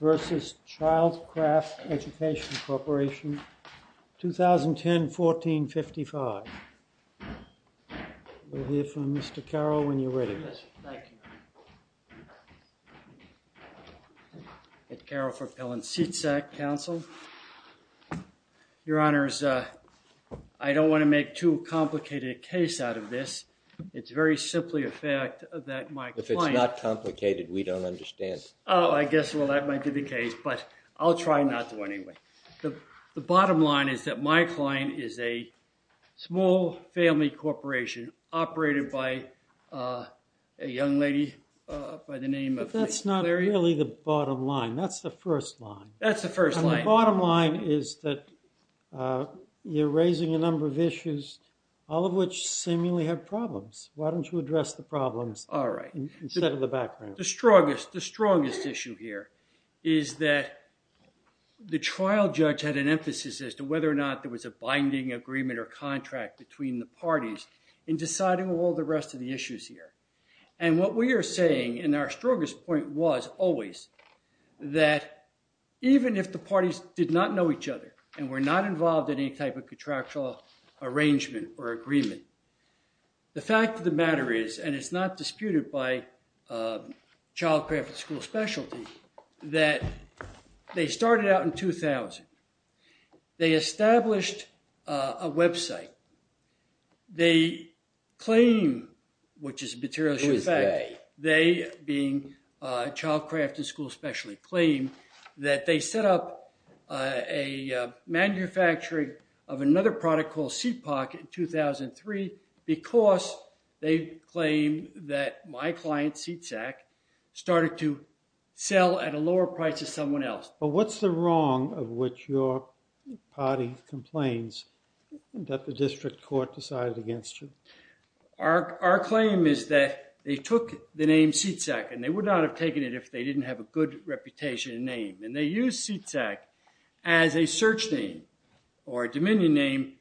v. CHILDCRAFT Education Corporation, 2010-14-55. We'll hear from Mr. Carroll when you're ready. Yes, thank you. It's Carroll for Pellan Seat Sack Council. Your Honors, I don't want to make too complicated a case out of this. It's very simply a fact that my client... If it's not so, that might be the case, but I'll try not to anyway. The bottom line is that my client is a small family corporation operated by a young lady by the name of... That's not really the bottom line. That's the first line. That's the first line. The bottom line is that you're raising a number of issues, all of which seemingly have problems. Why don't you address the problems? All right. Instead of the background. The strongest issue here is that the trial judge had an emphasis as to whether or not there was a binding agreement or contract between the parties in deciding all the rest of the issues here. And what we are saying, and our strongest point was always, that even if the parties did not know each other and were not involved in any type of contractual arrangement or agreement, the fact of the matter is, and it's not disputed by Child Craft and School Specialty, that they started out in 2000. They established a website. They claim, which is a materialistic fact, they being Child Craft and School Specialty, claim that they set up a manufacturing of another product called Seat Pocket in 2003 because they claim that my client Seat Sack started to sell at a lower price of someone else. But what's the wrong of which your party complains that the district court decided against you? Our claim is that they took the name Seat Sack and they would not have taken it if they didn't have a good reputation and name. And they use Seat Sack as a search name or a dominion name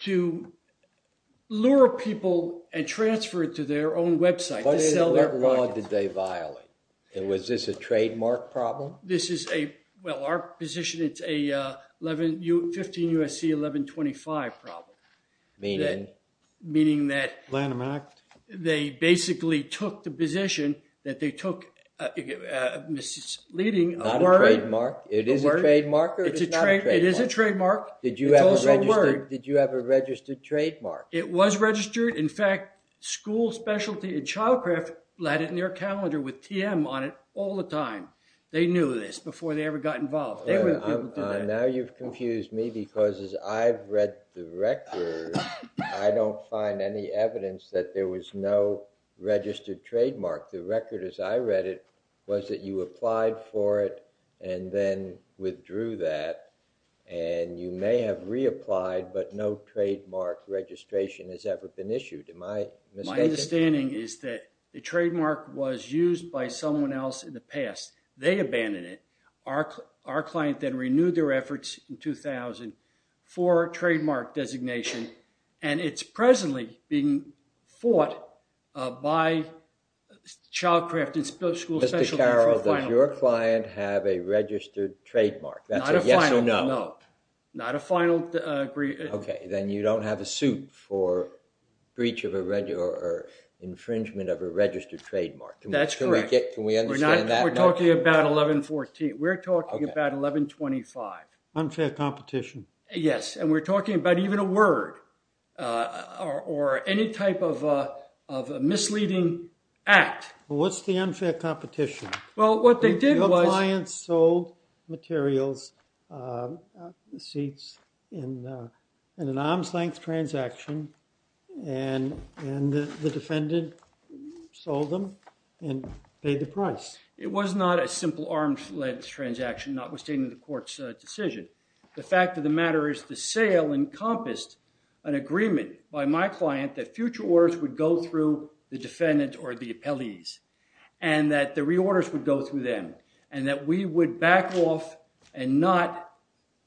to lure people and transfer it to their own website. What law did they violate? Was this a trademark problem? This is a, well our position, it's a 15 U.S.C. 1125 problem. Meaning? Meaning that they basically took the It is a trademark? It is a trademark. It's also a word. Did you have a registered trademark? It was registered. In fact, School Specialty and Child Craft had it in their calendar with TM on it all the time. They knew this before they ever got involved. Now you've confused me because as I've read the record, I don't find any evidence that there was no registered trademark. The record as I read it was that you applied for it and then withdrew that and you may have reapplied but no trademark registration has ever been issued. Am I mistaken? My understanding is that the trademark was used by someone else in the past. They abandoned it. Our client then renewed their efforts in 2000 for trademark designation and it's presently being fought by Child Craft and School Specialty for a final. Mr. Carroll, does your client have a registered trademark? Not a final note. Not a final. Okay, then you don't have a suit for breach of a regular infringement of a registered trademark. That's correct. Can we understand that? We're not talking about 1114. We're talking about 1125. Unfair competition. Yes, and we're talking about even a word or any type of a misleading act. What's the unfair competition? Well, what they did was... Your client sold materials, seats in an arm's-length transaction and the defendant sold them and paid the price. It was not a simple arm's-length transaction notwithstanding the court's decision. The fact of the matter is the sale encompassed an agreement by my client that future orders would go through the defendant or the appellees and that the reorders would go through them and that we would back off and not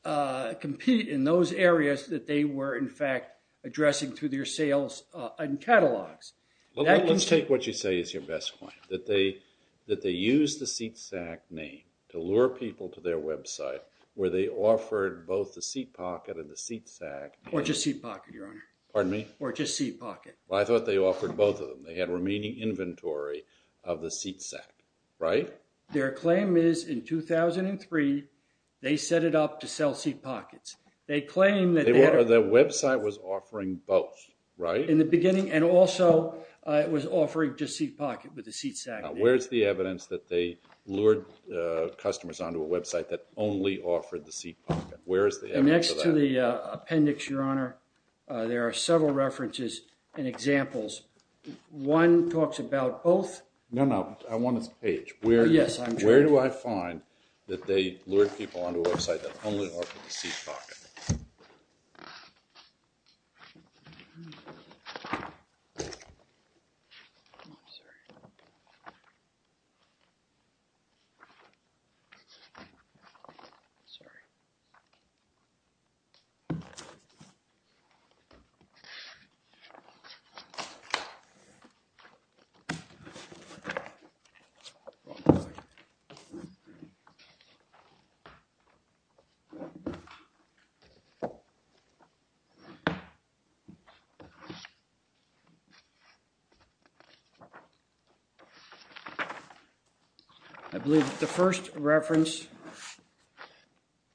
compete in those areas that they were in fact addressing through their sales and catalogs. Let's take what you say is your best point. That they used the seat sack name to lure people to their website where they offered both the seat pocket and the seat sack. Or just seat pocket, Your Honor. Pardon me? Or just seat pocket in the inventory of the seat sack, right? Their claim is in 2003 they set it up to sell seat pockets. They claim that... The website was offering both, right? In the beginning and also it was offering just seat pocket with the seat sack. Where's the evidence that they lured customers onto a website that only offered the seat pocket? Where is the evidence of that? Next to the appendix, Your Honor, there are several references and examples. One talks about both. No, no. I want a page. Yes. Where do I find that they lured people onto a website that only offered the seat pocket? I believe the first reference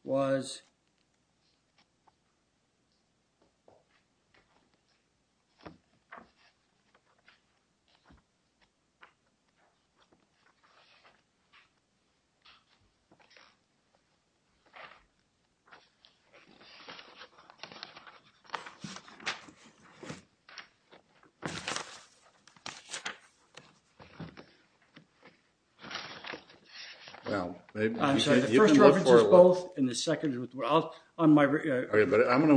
was I'm going to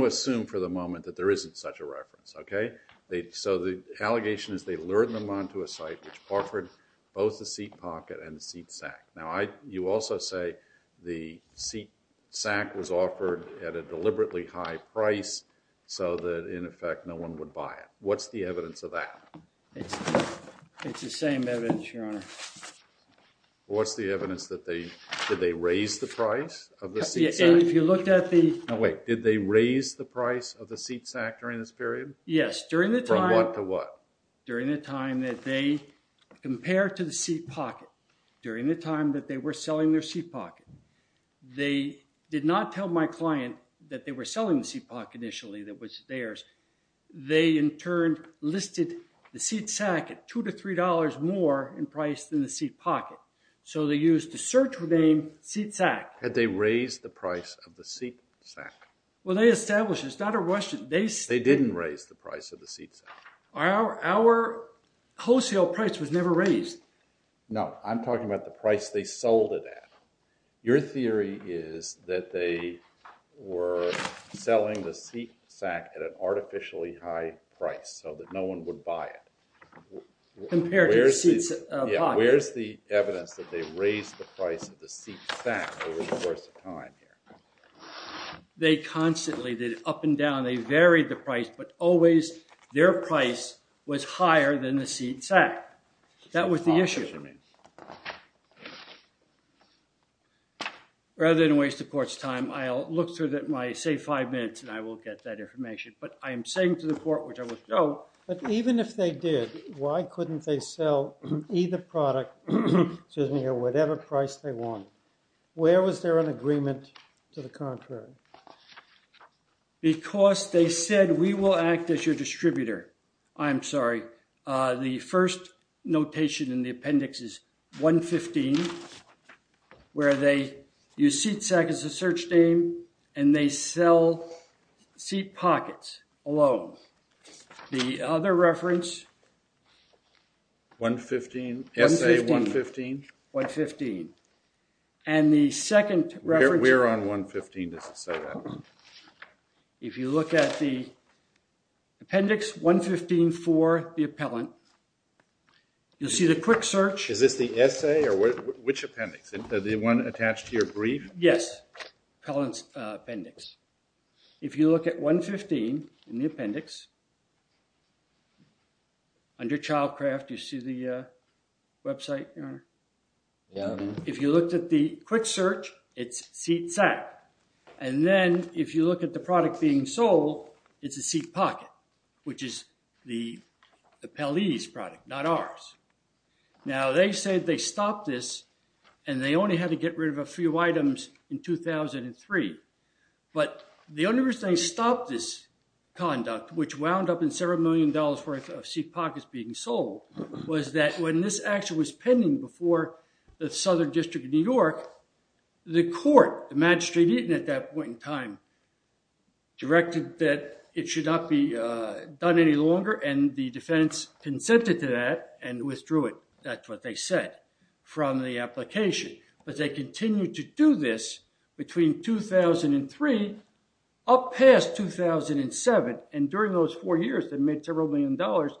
assume for the moment that there isn't such a reference. Okay? So the allegation is they lured them onto a site which offered both the seat pocket and the seat sack. Now I, you also say the seat sack was offered at a deliberately high price so that in effect no one would buy it. What's the evidence of that? It's the same evidence, Your Honor. What's the evidence that they, did they raise the price of the seat sack? If you looked at the... No, wait. Did they raise the price of the seat sack? Yes. During the time... From what to what? During the time that they compared to the seat pocket. During the time that they were selling their seat pocket. They did not tell my client that they were selling the seat pocket initially that was theirs. They in turn listed the seat sack at two to three dollars more in price than the seat pocket. So they used the search name seat sack. Had they raised the price of the seat sack? Well they established it. It's not a Russian... They didn't raise the price of the seat sack. Our wholesale price was never raised. No, I'm talking about the price they sold it at. Your theory is that they were selling the seat sack at an artificially high price so that no one would buy it. Compared to the seat pocket. Where's the evidence that they raised the price of the seat sack over the course of time here? They constantly did it up and down. They varied the price but always their price was higher than the seat sack. That was the issue. Rather than waste the court's time, I'll look through my, say, five minutes and I will get that information. But I am saying to the court, which I will show... But even if they did, why couldn't they sell either product, excuse me, at whatever price they want? Where was there an agreement to the contrary? Because they said we will act as your distributor. I'm sorry. The first notation in the appendix is 115, where they use seat sack as a search name and they sell seat pockets alone. The other reference... Essay 115? 115. And the second reference... We're on 115. If you look at the appendix 115 for the appellant, you'll see the quick search... Is this the essay or which appendix? The one attached to your brief? Yes. Appellant's appendix. If you look at 115 in the appendix, under child craft, you see the website? Yeah. If you looked at the quick search, it's seat sack. And then if you look at the product being sold, it's a seat pocket, which is the appellee's product, not ours. Now, they say they stopped this and they only had to get rid of a few items in 2003. But the only reason they stopped this conduct, which wound up in several million dollars worth of seat pockets being sold, was that when this action was pending before the Southern District of New York, the court, the magistrate at that point in time, directed that it should not be done any longer. And the defense consented to that and withdrew it. That's what they said from the application. But they continued to do this between 2003, up past 2007. And during those four years, they made several million dollars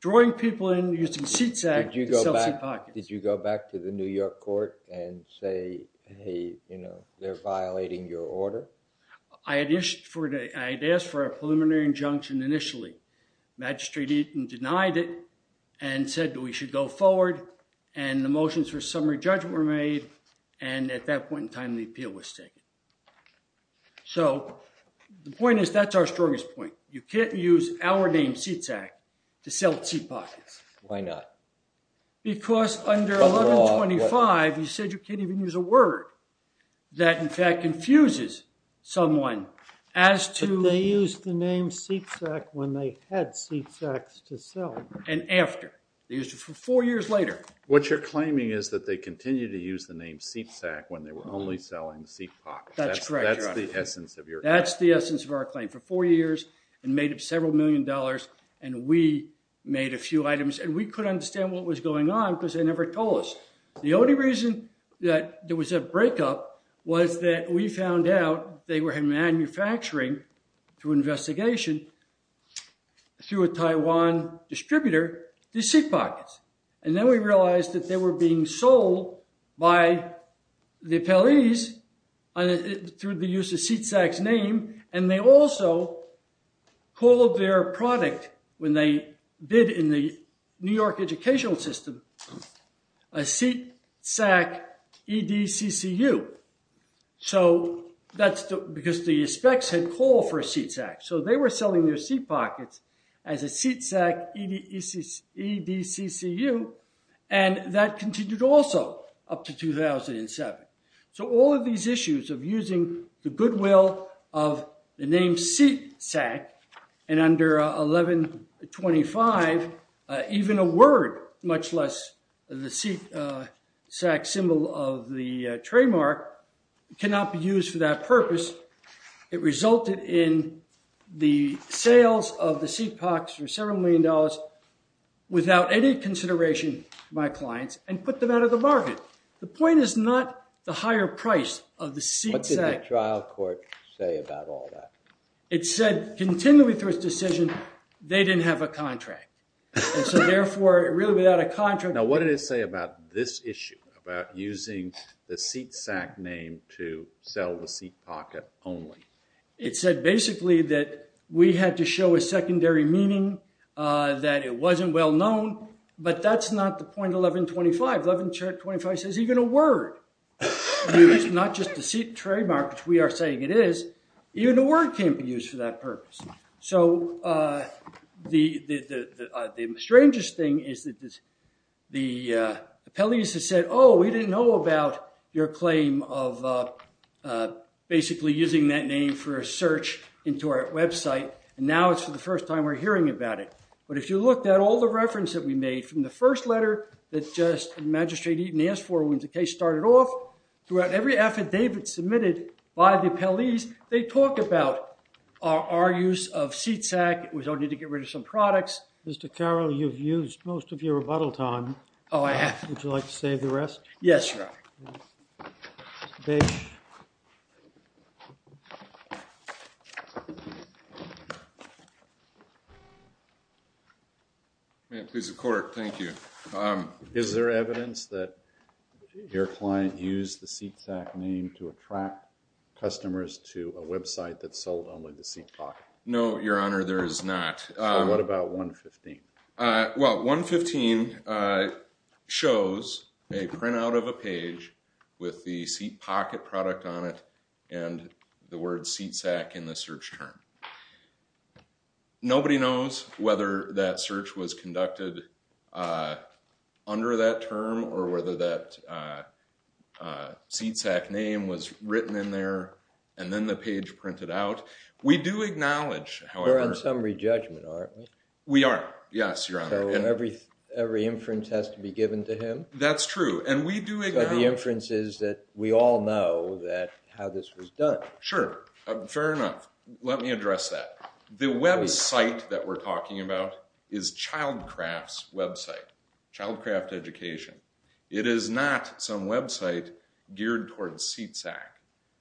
drawing people in using seat sack to sell seat pockets. Did you go back to the New York court and say, hey, you know, they're violating your order? I had asked for a preliminary injunction initially. Magistrate Eaton denied it and said that we should go forward. And the motions for summary judgment were made. And at that point in time, the appeal was taken. So, the point is, that's our strongest point. You can't use our name, seat sack, to sell seat pockets. Why not? Because under 1125, you said you can't even use a word. That, in fact, confuses someone as to... They used the name seat sack when they had seat sacks to sell. And after. Four years later. What you're claiming is that they continued to use the name seat sack when they were only selling seat pockets. That's correct, Your Honor. That's the essence of your claim. That's the essence of our claim. And made up several million dollars. And we made a few items. And we couldn't understand what was going on because they never told us. The only reason that there was a breakup was that we found out they were manufacturing, through investigation, through a Taiwan distributor, these seat pockets. And then we realized that they were being sold by the appellees through the use of seat sack's name. And they also called their product, when they did in the New York educational system, a seat sack EDCCU. So that's because the specs had called for a seat sack. So they were selling their seat pockets as a seat sack EDCCU. And that continued also up to 2007. So all of these issues of using the goodwill of the name seat sack, and under 1125, even a word, much less the seat sack symbol of the trademark, cannot be used for that purpose. It resulted in the sales of the seat pockets for several million dollars without any consideration by clients and put them out of the market. The point is not the higher price of the seat sack. What did the trial court say about all that? It said, continually through its decision, they didn't have a contract. And so therefore, really without a contract. Now what did it say about this issue, about using the seat sack name to sell the seat pocket only? It said basically that we had to show a secondary meaning, that it wasn't well known. But that's not the point 1125. 1125 says even a word used, not just a seat trademark, which we are saying it is, even a word can't be used for that purpose. So the strangest thing is that the appellees have said, oh, we didn't know about your claim of basically using that name for a search into our website. And now it's for the first time we're hearing about it. But if you look at all the reference that we made from the first letter that just Magistrate Eaton asked for when the case started off, throughout every affidavit submitted by the appellees, they talk about our use of seat sack. It was only to get rid of some products. Mr. Carroll, you've used most of your rebuttal time. Oh, I have. Would you like to save the rest? Yes, Your Honor. Thank you. May it please the Court. Thank you. Is there evidence that your client used the seat sack name to attract customers to a website that sold only the seat sack? No, Your Honor, there is not. So what about 115? Well, 115 shows a printout of a page with the seat pocket product on it and the word seat sack in the search term. Nobody knows whether that search was conducted under that term or whether that seat sack name was written in there and then the page printed out. We do acknowledge, however… We're on summary judgment, aren't we? We are, yes, Your Honor. So every inference has to be given to him? That's true, and we do acknowledge… So the inference is that we all know how this was done. Sure, fair enough. Let me address that. The website that we're talking about is Childcraft's website, Childcraft Education. It is not some website geared towards seat sack.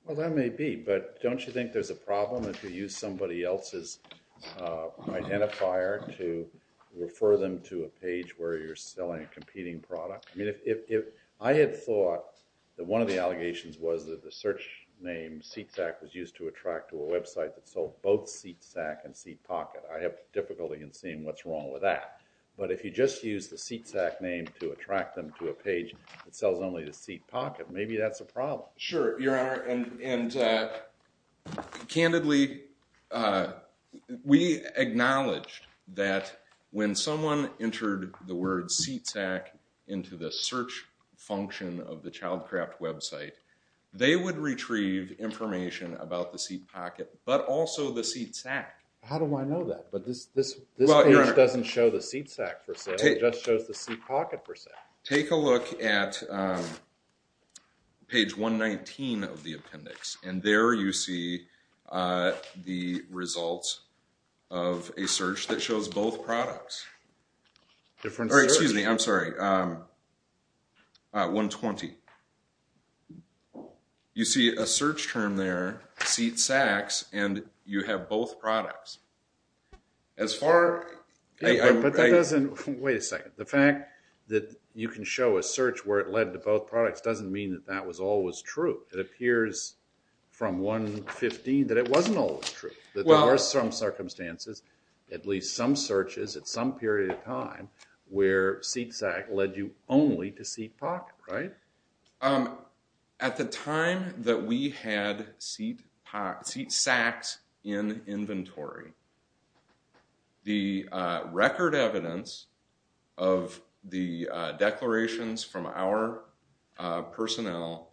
Well, that may be, but don't you think there's a problem if you use somebody else's identifier to refer them to a page where you're selling a competing product? I had thought that one of the allegations was that the search name seat sack was used to attract to a website that sold both seat sack and seat pocket. I have difficulty in seeing what's wrong with that. But if you just use the seat sack name to attract them to a page that sells only the seat pocket, maybe that's a problem. Sure, Your Honor, and candidly, we acknowledge that when someone entered the word seat sack into the search function of the Childcraft website, they would retrieve information about the seat pocket, but also the seat sack. How do I know that? But this page doesn't show the seat sack, per se. It just shows the seat pocket, per se. Take a look at page 119 of the appendix, and there you see the results of a search that shows both products. Excuse me, I'm sorry, 120. You see a search term there, seat sacks, and you have both products. Wait a second. The fact that you can show a search where it led to both products doesn't mean that that was always true. It appears from 115 that it wasn't always true. There were some circumstances, at least some searches at some period of time, where seat sack led you only to seat pocket, right? At the time that we had seat sacks in inventory, the record evidence of the declarations from our personnel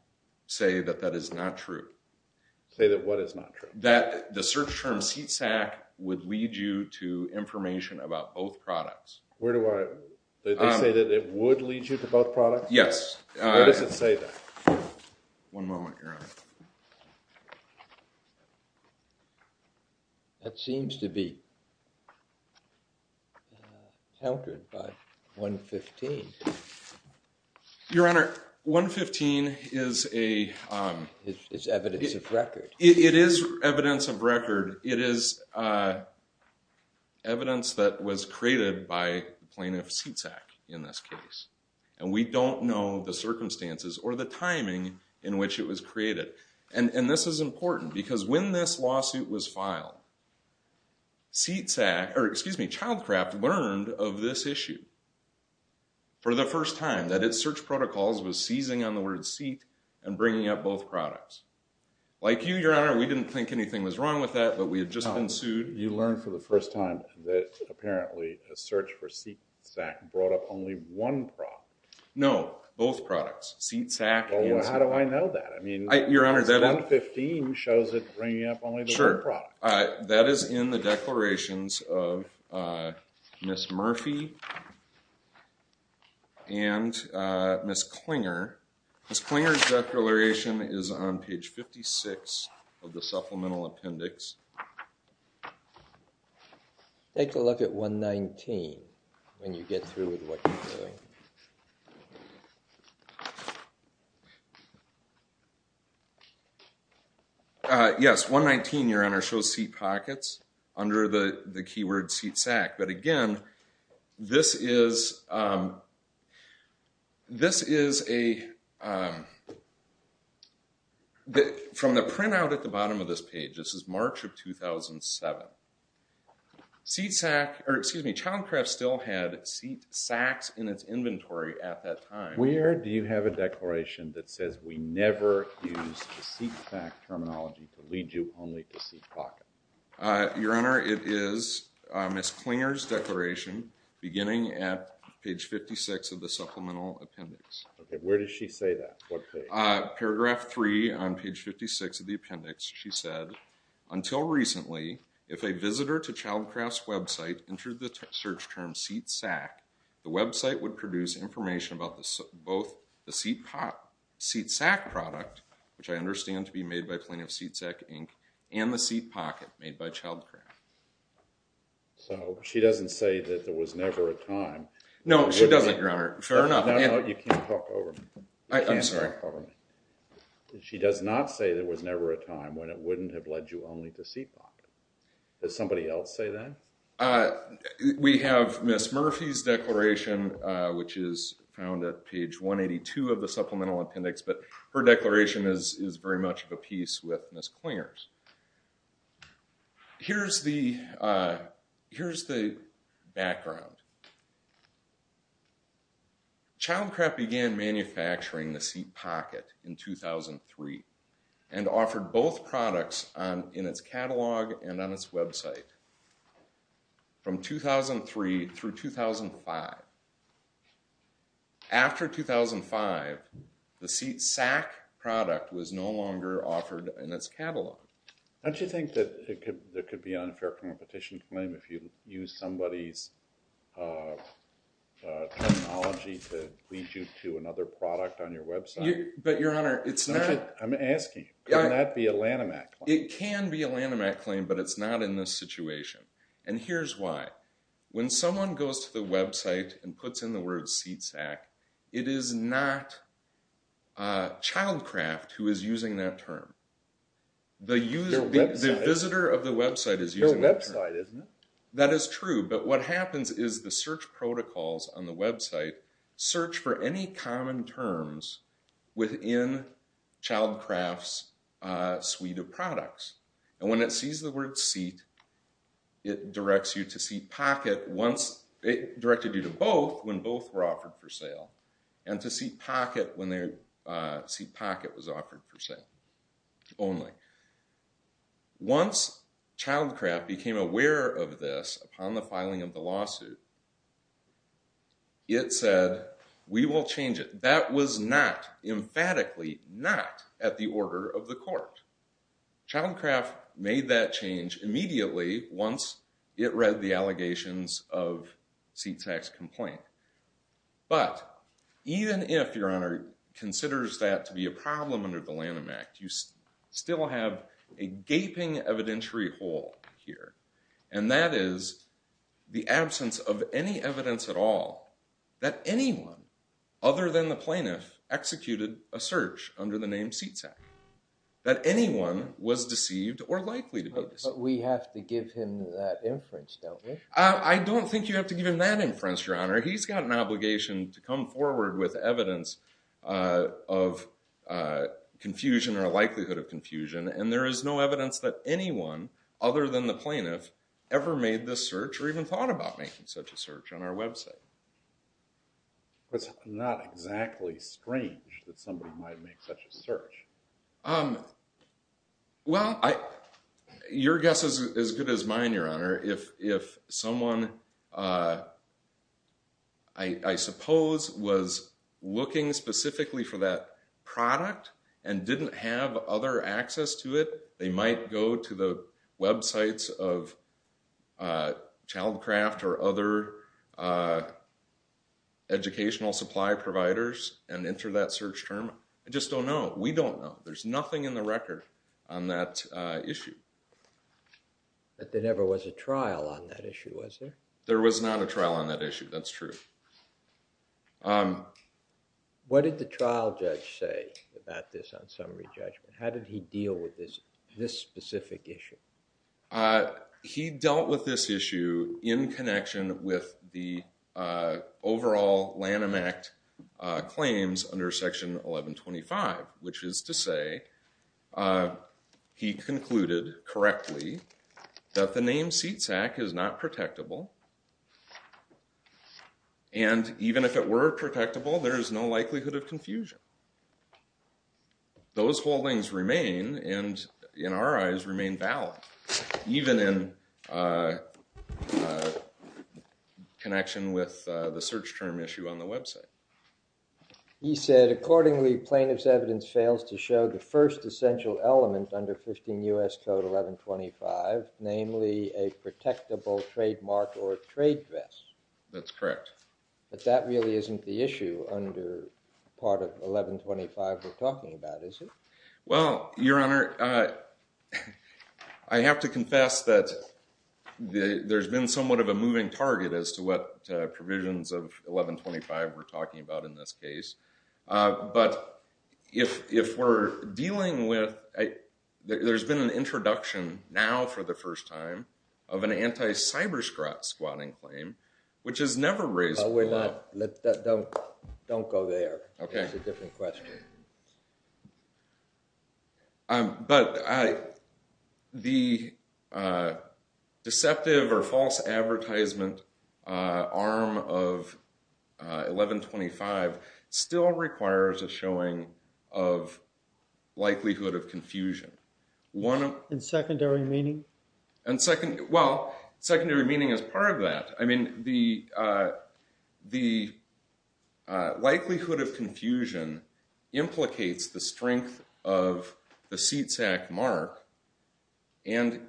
say that that is not true. Say that what is not true? That the search term seat sack would lead you to information about both products. They say that it would lead you to both products? Yes. Why does it say that? One moment, Your Honor. That seems to be countered by 115. Your Honor, 115 is a... It's evidence of record. It is evidence of record. It is evidence that was created by plaintiff seat sack in this case. And we don't know the circumstances or the timing in which it was created. And this is important because when this lawsuit was filed, seat sack, or excuse me, child craft learned of this issue for the first time. That its search protocols was seizing on the word seat and bringing up both products. Like you, Your Honor, we didn't think anything was wrong with that, but we had just been sued. You learned for the first time that apparently a search for seat sack brought up only one product. No, both products. Seat sack and... Well, how do I know that? I mean, 115 shows it bringing up only the one product. That is in the declarations of Ms. Murphy and Ms. Klinger. Ms. Klinger's declaration is on page 56 of the supplemental appendix. Take a look at 119 when you get through with what you're doing. Yes, 119, Your Honor, shows seat pockets under the keyword seat sack. But again, this is a... From the printout at the bottom of this page, this is March of 2007. Seat sack, or excuse me, child craft still had seat sacks in its inventory at that time. Where do you have a declaration that says we never used seat sack terminology to lead you only to seat pocket? Your Honor, it is Ms. Klinger's declaration beginning at page 56 of the supplemental appendix. Okay, where does she say that? What page? In paragraph 3 on page 56 of the appendix, she said, Until recently, if a visitor to child craft's website entered the search term seat sack, the website would produce information about both the seat sack product, which I understand to be made by plaintiff seat sack, and the seat pocket made by child craft. So, she doesn't say that there was never a time. No, she doesn't, Your Honor. Fair enough. You can't talk over me. I'm sorry. She does not say there was never a time when it wouldn't have led you only to seat pocket. Does somebody else say that? We have Ms. Murphy's declaration, which is found at page 182 of the supplemental appendix, but her declaration is very much of a piece with Ms. Klinger's. Here's the background. Child craft began manufacturing the seat pocket in 2003, and offered both products in its catalog and on its website from 2003 through 2005. After 2005, the seat sack product was no longer offered in its catalog. Don't you think that there could be an unfair competition claim if you use somebody's technology to lead you to another product on your website? But, Your Honor, it's not... I'm asking. Could that be a Lanhamac claim? It can be a Lanhamac claim, but it's not in this situation, and here's why. When someone goes to the website and puts in the word seat sack, it is not Child Craft who is using that term. The visitor of the website is using that term. It's their website, isn't it? That is true, but what happens is the search protocols on the website search for any common terms within Child Craft's suite of products. And when it sees the word seat, it directs you to seat pocket once... It directed you to both when both were offered for sale, and to seat pocket when seat pocket was offered for sale only. Once Child Craft became aware of this upon the filing of the lawsuit, it said, we will change it. That was not, emphatically not, at the order of the court. Child Craft made that change immediately once it read the allegations of seat sack's complaint. But even if, Your Honor, considers that to be a problem under the Lanham Act, you still have a gaping evidentiary hole here, and that is the absence of any evidence at all that anyone other than the plaintiff executed a search under the name seat sack. That anyone was deceived or likely to be deceived. But we have to give him that inference, don't we? I don't think you have to give him that inference, Your Honor. He's got an obligation to come forward with evidence of confusion or a likelihood of confusion, and there is no evidence that anyone other than the plaintiff ever made this search or even thought about making such a search on our website. It's not exactly strange that somebody might make such a search. Well, your guess is as good as mine, Your Honor. If someone, I suppose, was looking specifically for that product and didn't have other access to it, they might go to the websites of Childcraft or other educational supply providers and enter that search term. I just don't know. We don't know. There's nothing in the record on that issue. But there never was a trial on that issue, was there? There was not a trial on that issue. That's true. What did the trial judge say about this on summary judgment? How did he deal with this specific issue? He dealt with this issue in connection with the overall Lanham Act claims under Section 1125, which is to say he concluded correctly that the name Seatsack is not protectable, and even if it were protectable, there is no likelihood of confusion. Those holdings remain, and in our eyes, remain valid, even in connection with the search term issue on the website. He said, accordingly, plaintiff's evidence fails to show the first essential element under 15 U.S. Code 1125, namely a protectable trademark or trade dress. That's correct. But that really isn't the issue under part of 1125 we're talking about, is it? Well, Your Honor, I have to confess that there's been somewhat of a moving target as to what provisions of 1125 we're talking about in this case. But if we're dealing with, there's been an introduction now for the first time of an anti-cyberscrot squatting claim, which is never raised before. Don't go there. It's a different question. But the deceptive or false advertisement arm of 1125 still requires a showing of likelihood of confusion. In secondary meaning? Well, secondary meaning is part of that. I mean, the likelihood of confusion implicates the strength of the seat sack mark, and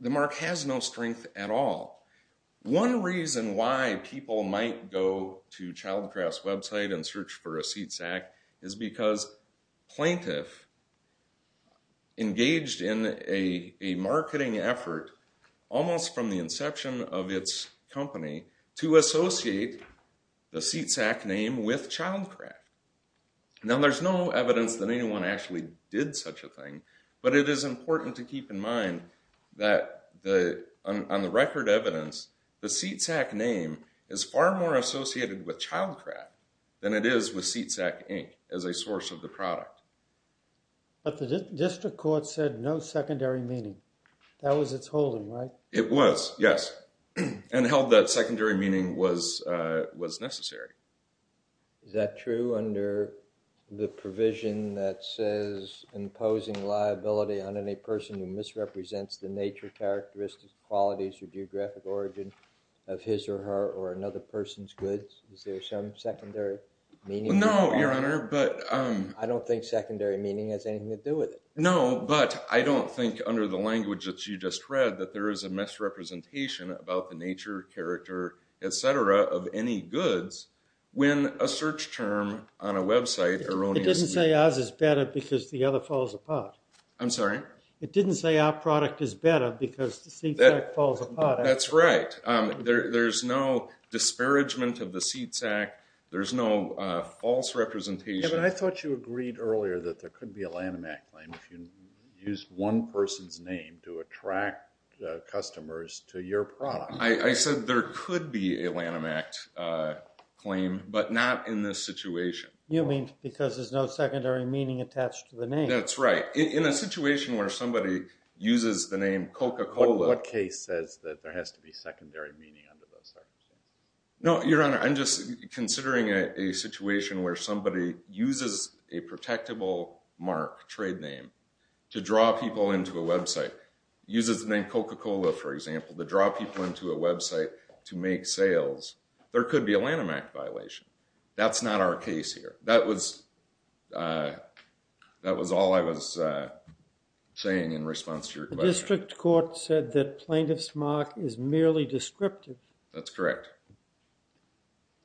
the mark has no strength at all. One reason why people might go to Childcraft's website and search for a seat sack is because plaintiff engaged in a marketing effort almost from the inception of its company to associate the seat sack name with Childcraft. Now, there's no evidence that anyone actually did such a thing, but it is important to keep in mind that on the record evidence, the seat sack name is far more associated with Childcraft than it is with Seat Sack Inc. as a source of the product. But the district court said no secondary meaning. That was its holding, right? It was, yes, and held that secondary meaning was necessary. Is that true under the provision that says imposing liability on any person who misrepresents the nature, characteristics, qualities, or geographic origin of his or her or another person's goods? Is there some secondary meaning? No, Your Honor, but— I don't think secondary meaning has anything to do with it. No, but I don't think under the language that you just read that there is a misrepresentation about the nature, character, et cetera, of any goods when a search term on a website— It doesn't say ours is better because the other falls apart. I'm sorry? It didn't say our product is better because the seat sack falls apart. That's right. There's no disparagement of the seat sack. There's no false representation. Yeah, but I thought you agreed earlier that there could be a Lanham Act claim if you used one person's name to attract customers to your product. I said there could be a Lanham Act claim, but not in this situation. You mean because there's no secondary meaning attached to the name. That's right. In a situation where somebody uses the name Coca-Cola— What case says that there has to be secondary meaning under those circumstances? No, Your Honor, I'm just considering a situation where somebody uses a protectable mark, trade name, to draw people into a website, uses the name Coca-Cola, for example, to draw people into a website to make sales. There could be a Lanham Act violation. That's not our case here. That was all I was saying in response to your question. The district court said that plaintiff's mark is merely descriptive. That's correct,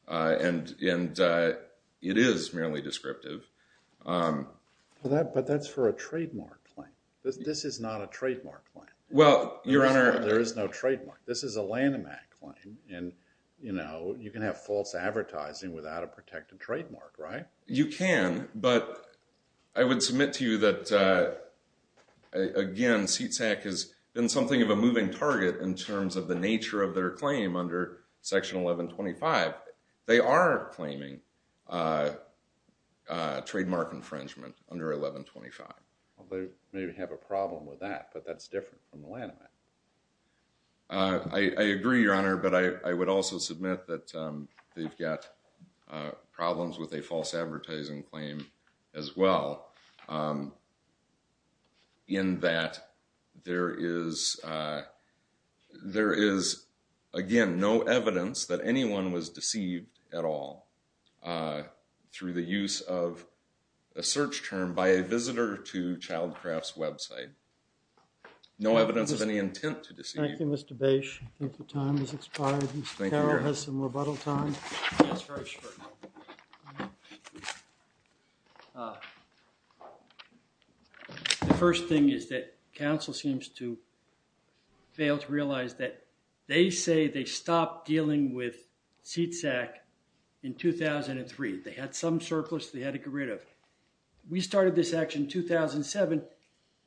and it is merely descriptive. But that's for a trademark claim. This is not a trademark claim. Well, Your Honor— There is no trademark. This is a Lanham Act claim, and you can have false advertising without a protected trademark, right? You can, but I would submit to you that, again, CTAC has been something of a moving target in terms of the nature of their claim under Section 1125. They are claiming trademark infringement under 1125. Well, they maybe have a problem with that, but that's different from the Lanham Act. I agree, Your Honor, but I would also submit that they've got problems with a false advertising claim as well, in that there is, again, no evidence that anyone was deceived at all through the use of a search term by a visitor to Childcraft's website. No evidence of any intent to deceive. Thank you, Mr. Bache. I think the time has expired. Mr. Carroll has some rebuttal time. The first thing is that counsel seems to fail to realize that they say they stopped dealing with CTAC in 2003. They had some surplus. They had to get rid of it. We started this action in 2007.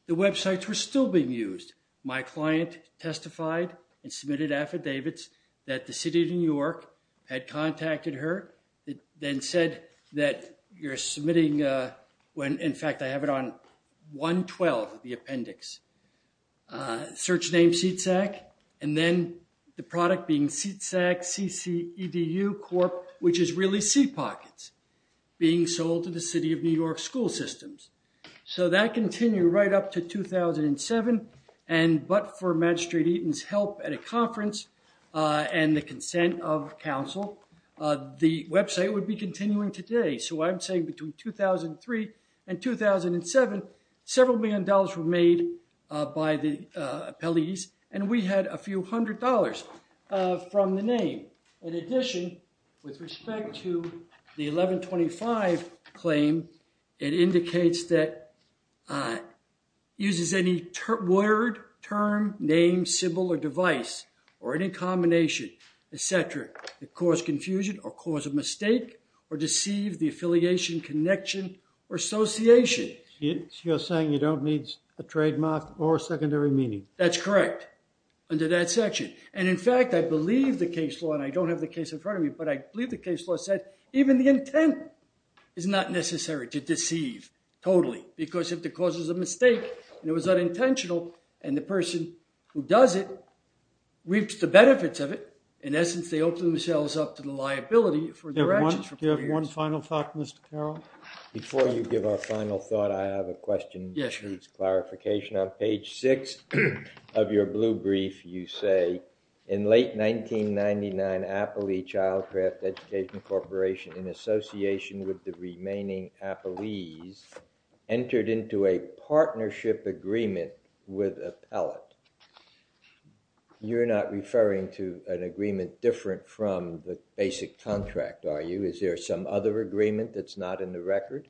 The websites were still being used. My client testified and submitted affidavits that the city of New York had contacted her. It then said that you're submitting when, in fact, I have it on 112, the appendix, search name CTAC, and then the product being CTAC, C-C-E-D-U, Corp., which is really seat pockets, being sold to the city of New York school systems. So that continued right up to 2007. But for Magistrate Eaton's help at a conference and the consent of counsel, the website would be continuing today. So I'm saying between 2003 and 2007, several million dollars were made by the appellees, and we had a few hundred dollars from the name. In addition, with respect to the 1125 claim, it indicates that it uses any word, term, name, symbol, or device, or any combination, et cetera, that cause confusion or cause a mistake or deceive the affiliation, connection, or association. You're saying you don't need a trademark or secondary meaning. That's correct, under that section. And in fact, I believe the case law, and I don't have the case in front of me, but I believe the case law said even the intent is not necessary to deceive, totally, because if the cause is a mistake and it was unintentional and the person who does it reaps the benefits of it, in essence, they open themselves up to the liability for their actions for four years. Do you have one final thought, Mr. Carroll? Before you give our final thought, I have a question. Yes, please. Clarification on page six of your blue brief, you say, in late 1999, Appley Childcraft Education Corporation, in association with the remaining appellees, entered into a partnership agreement with Appellate. You're not referring to an agreement different from the basic contract, are you? Is there some other agreement that's not in the record?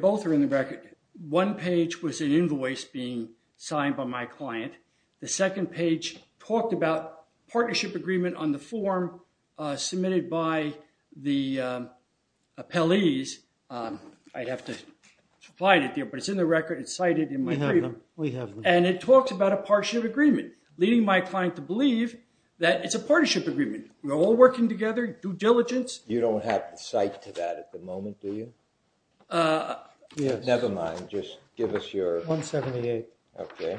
Both are in the record. One page was an invoice being signed by my client. The second page talked about partnership agreement on the form submitted by the appellees. I'd have to find it there, but it's in the record. It's cited in my brief. We have them. And it talks about a partnership agreement, leading my client to believe that it's a partnership agreement. We're all working together, due diligence. You don't have the site to that at the moment, do you? Never mind. Just give us your... 178. Okay.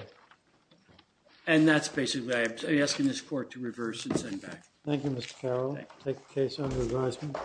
And that's basically it. I'm asking this court to reverse and send back. Thank you, Mr. Carroll. Take the case under advisement.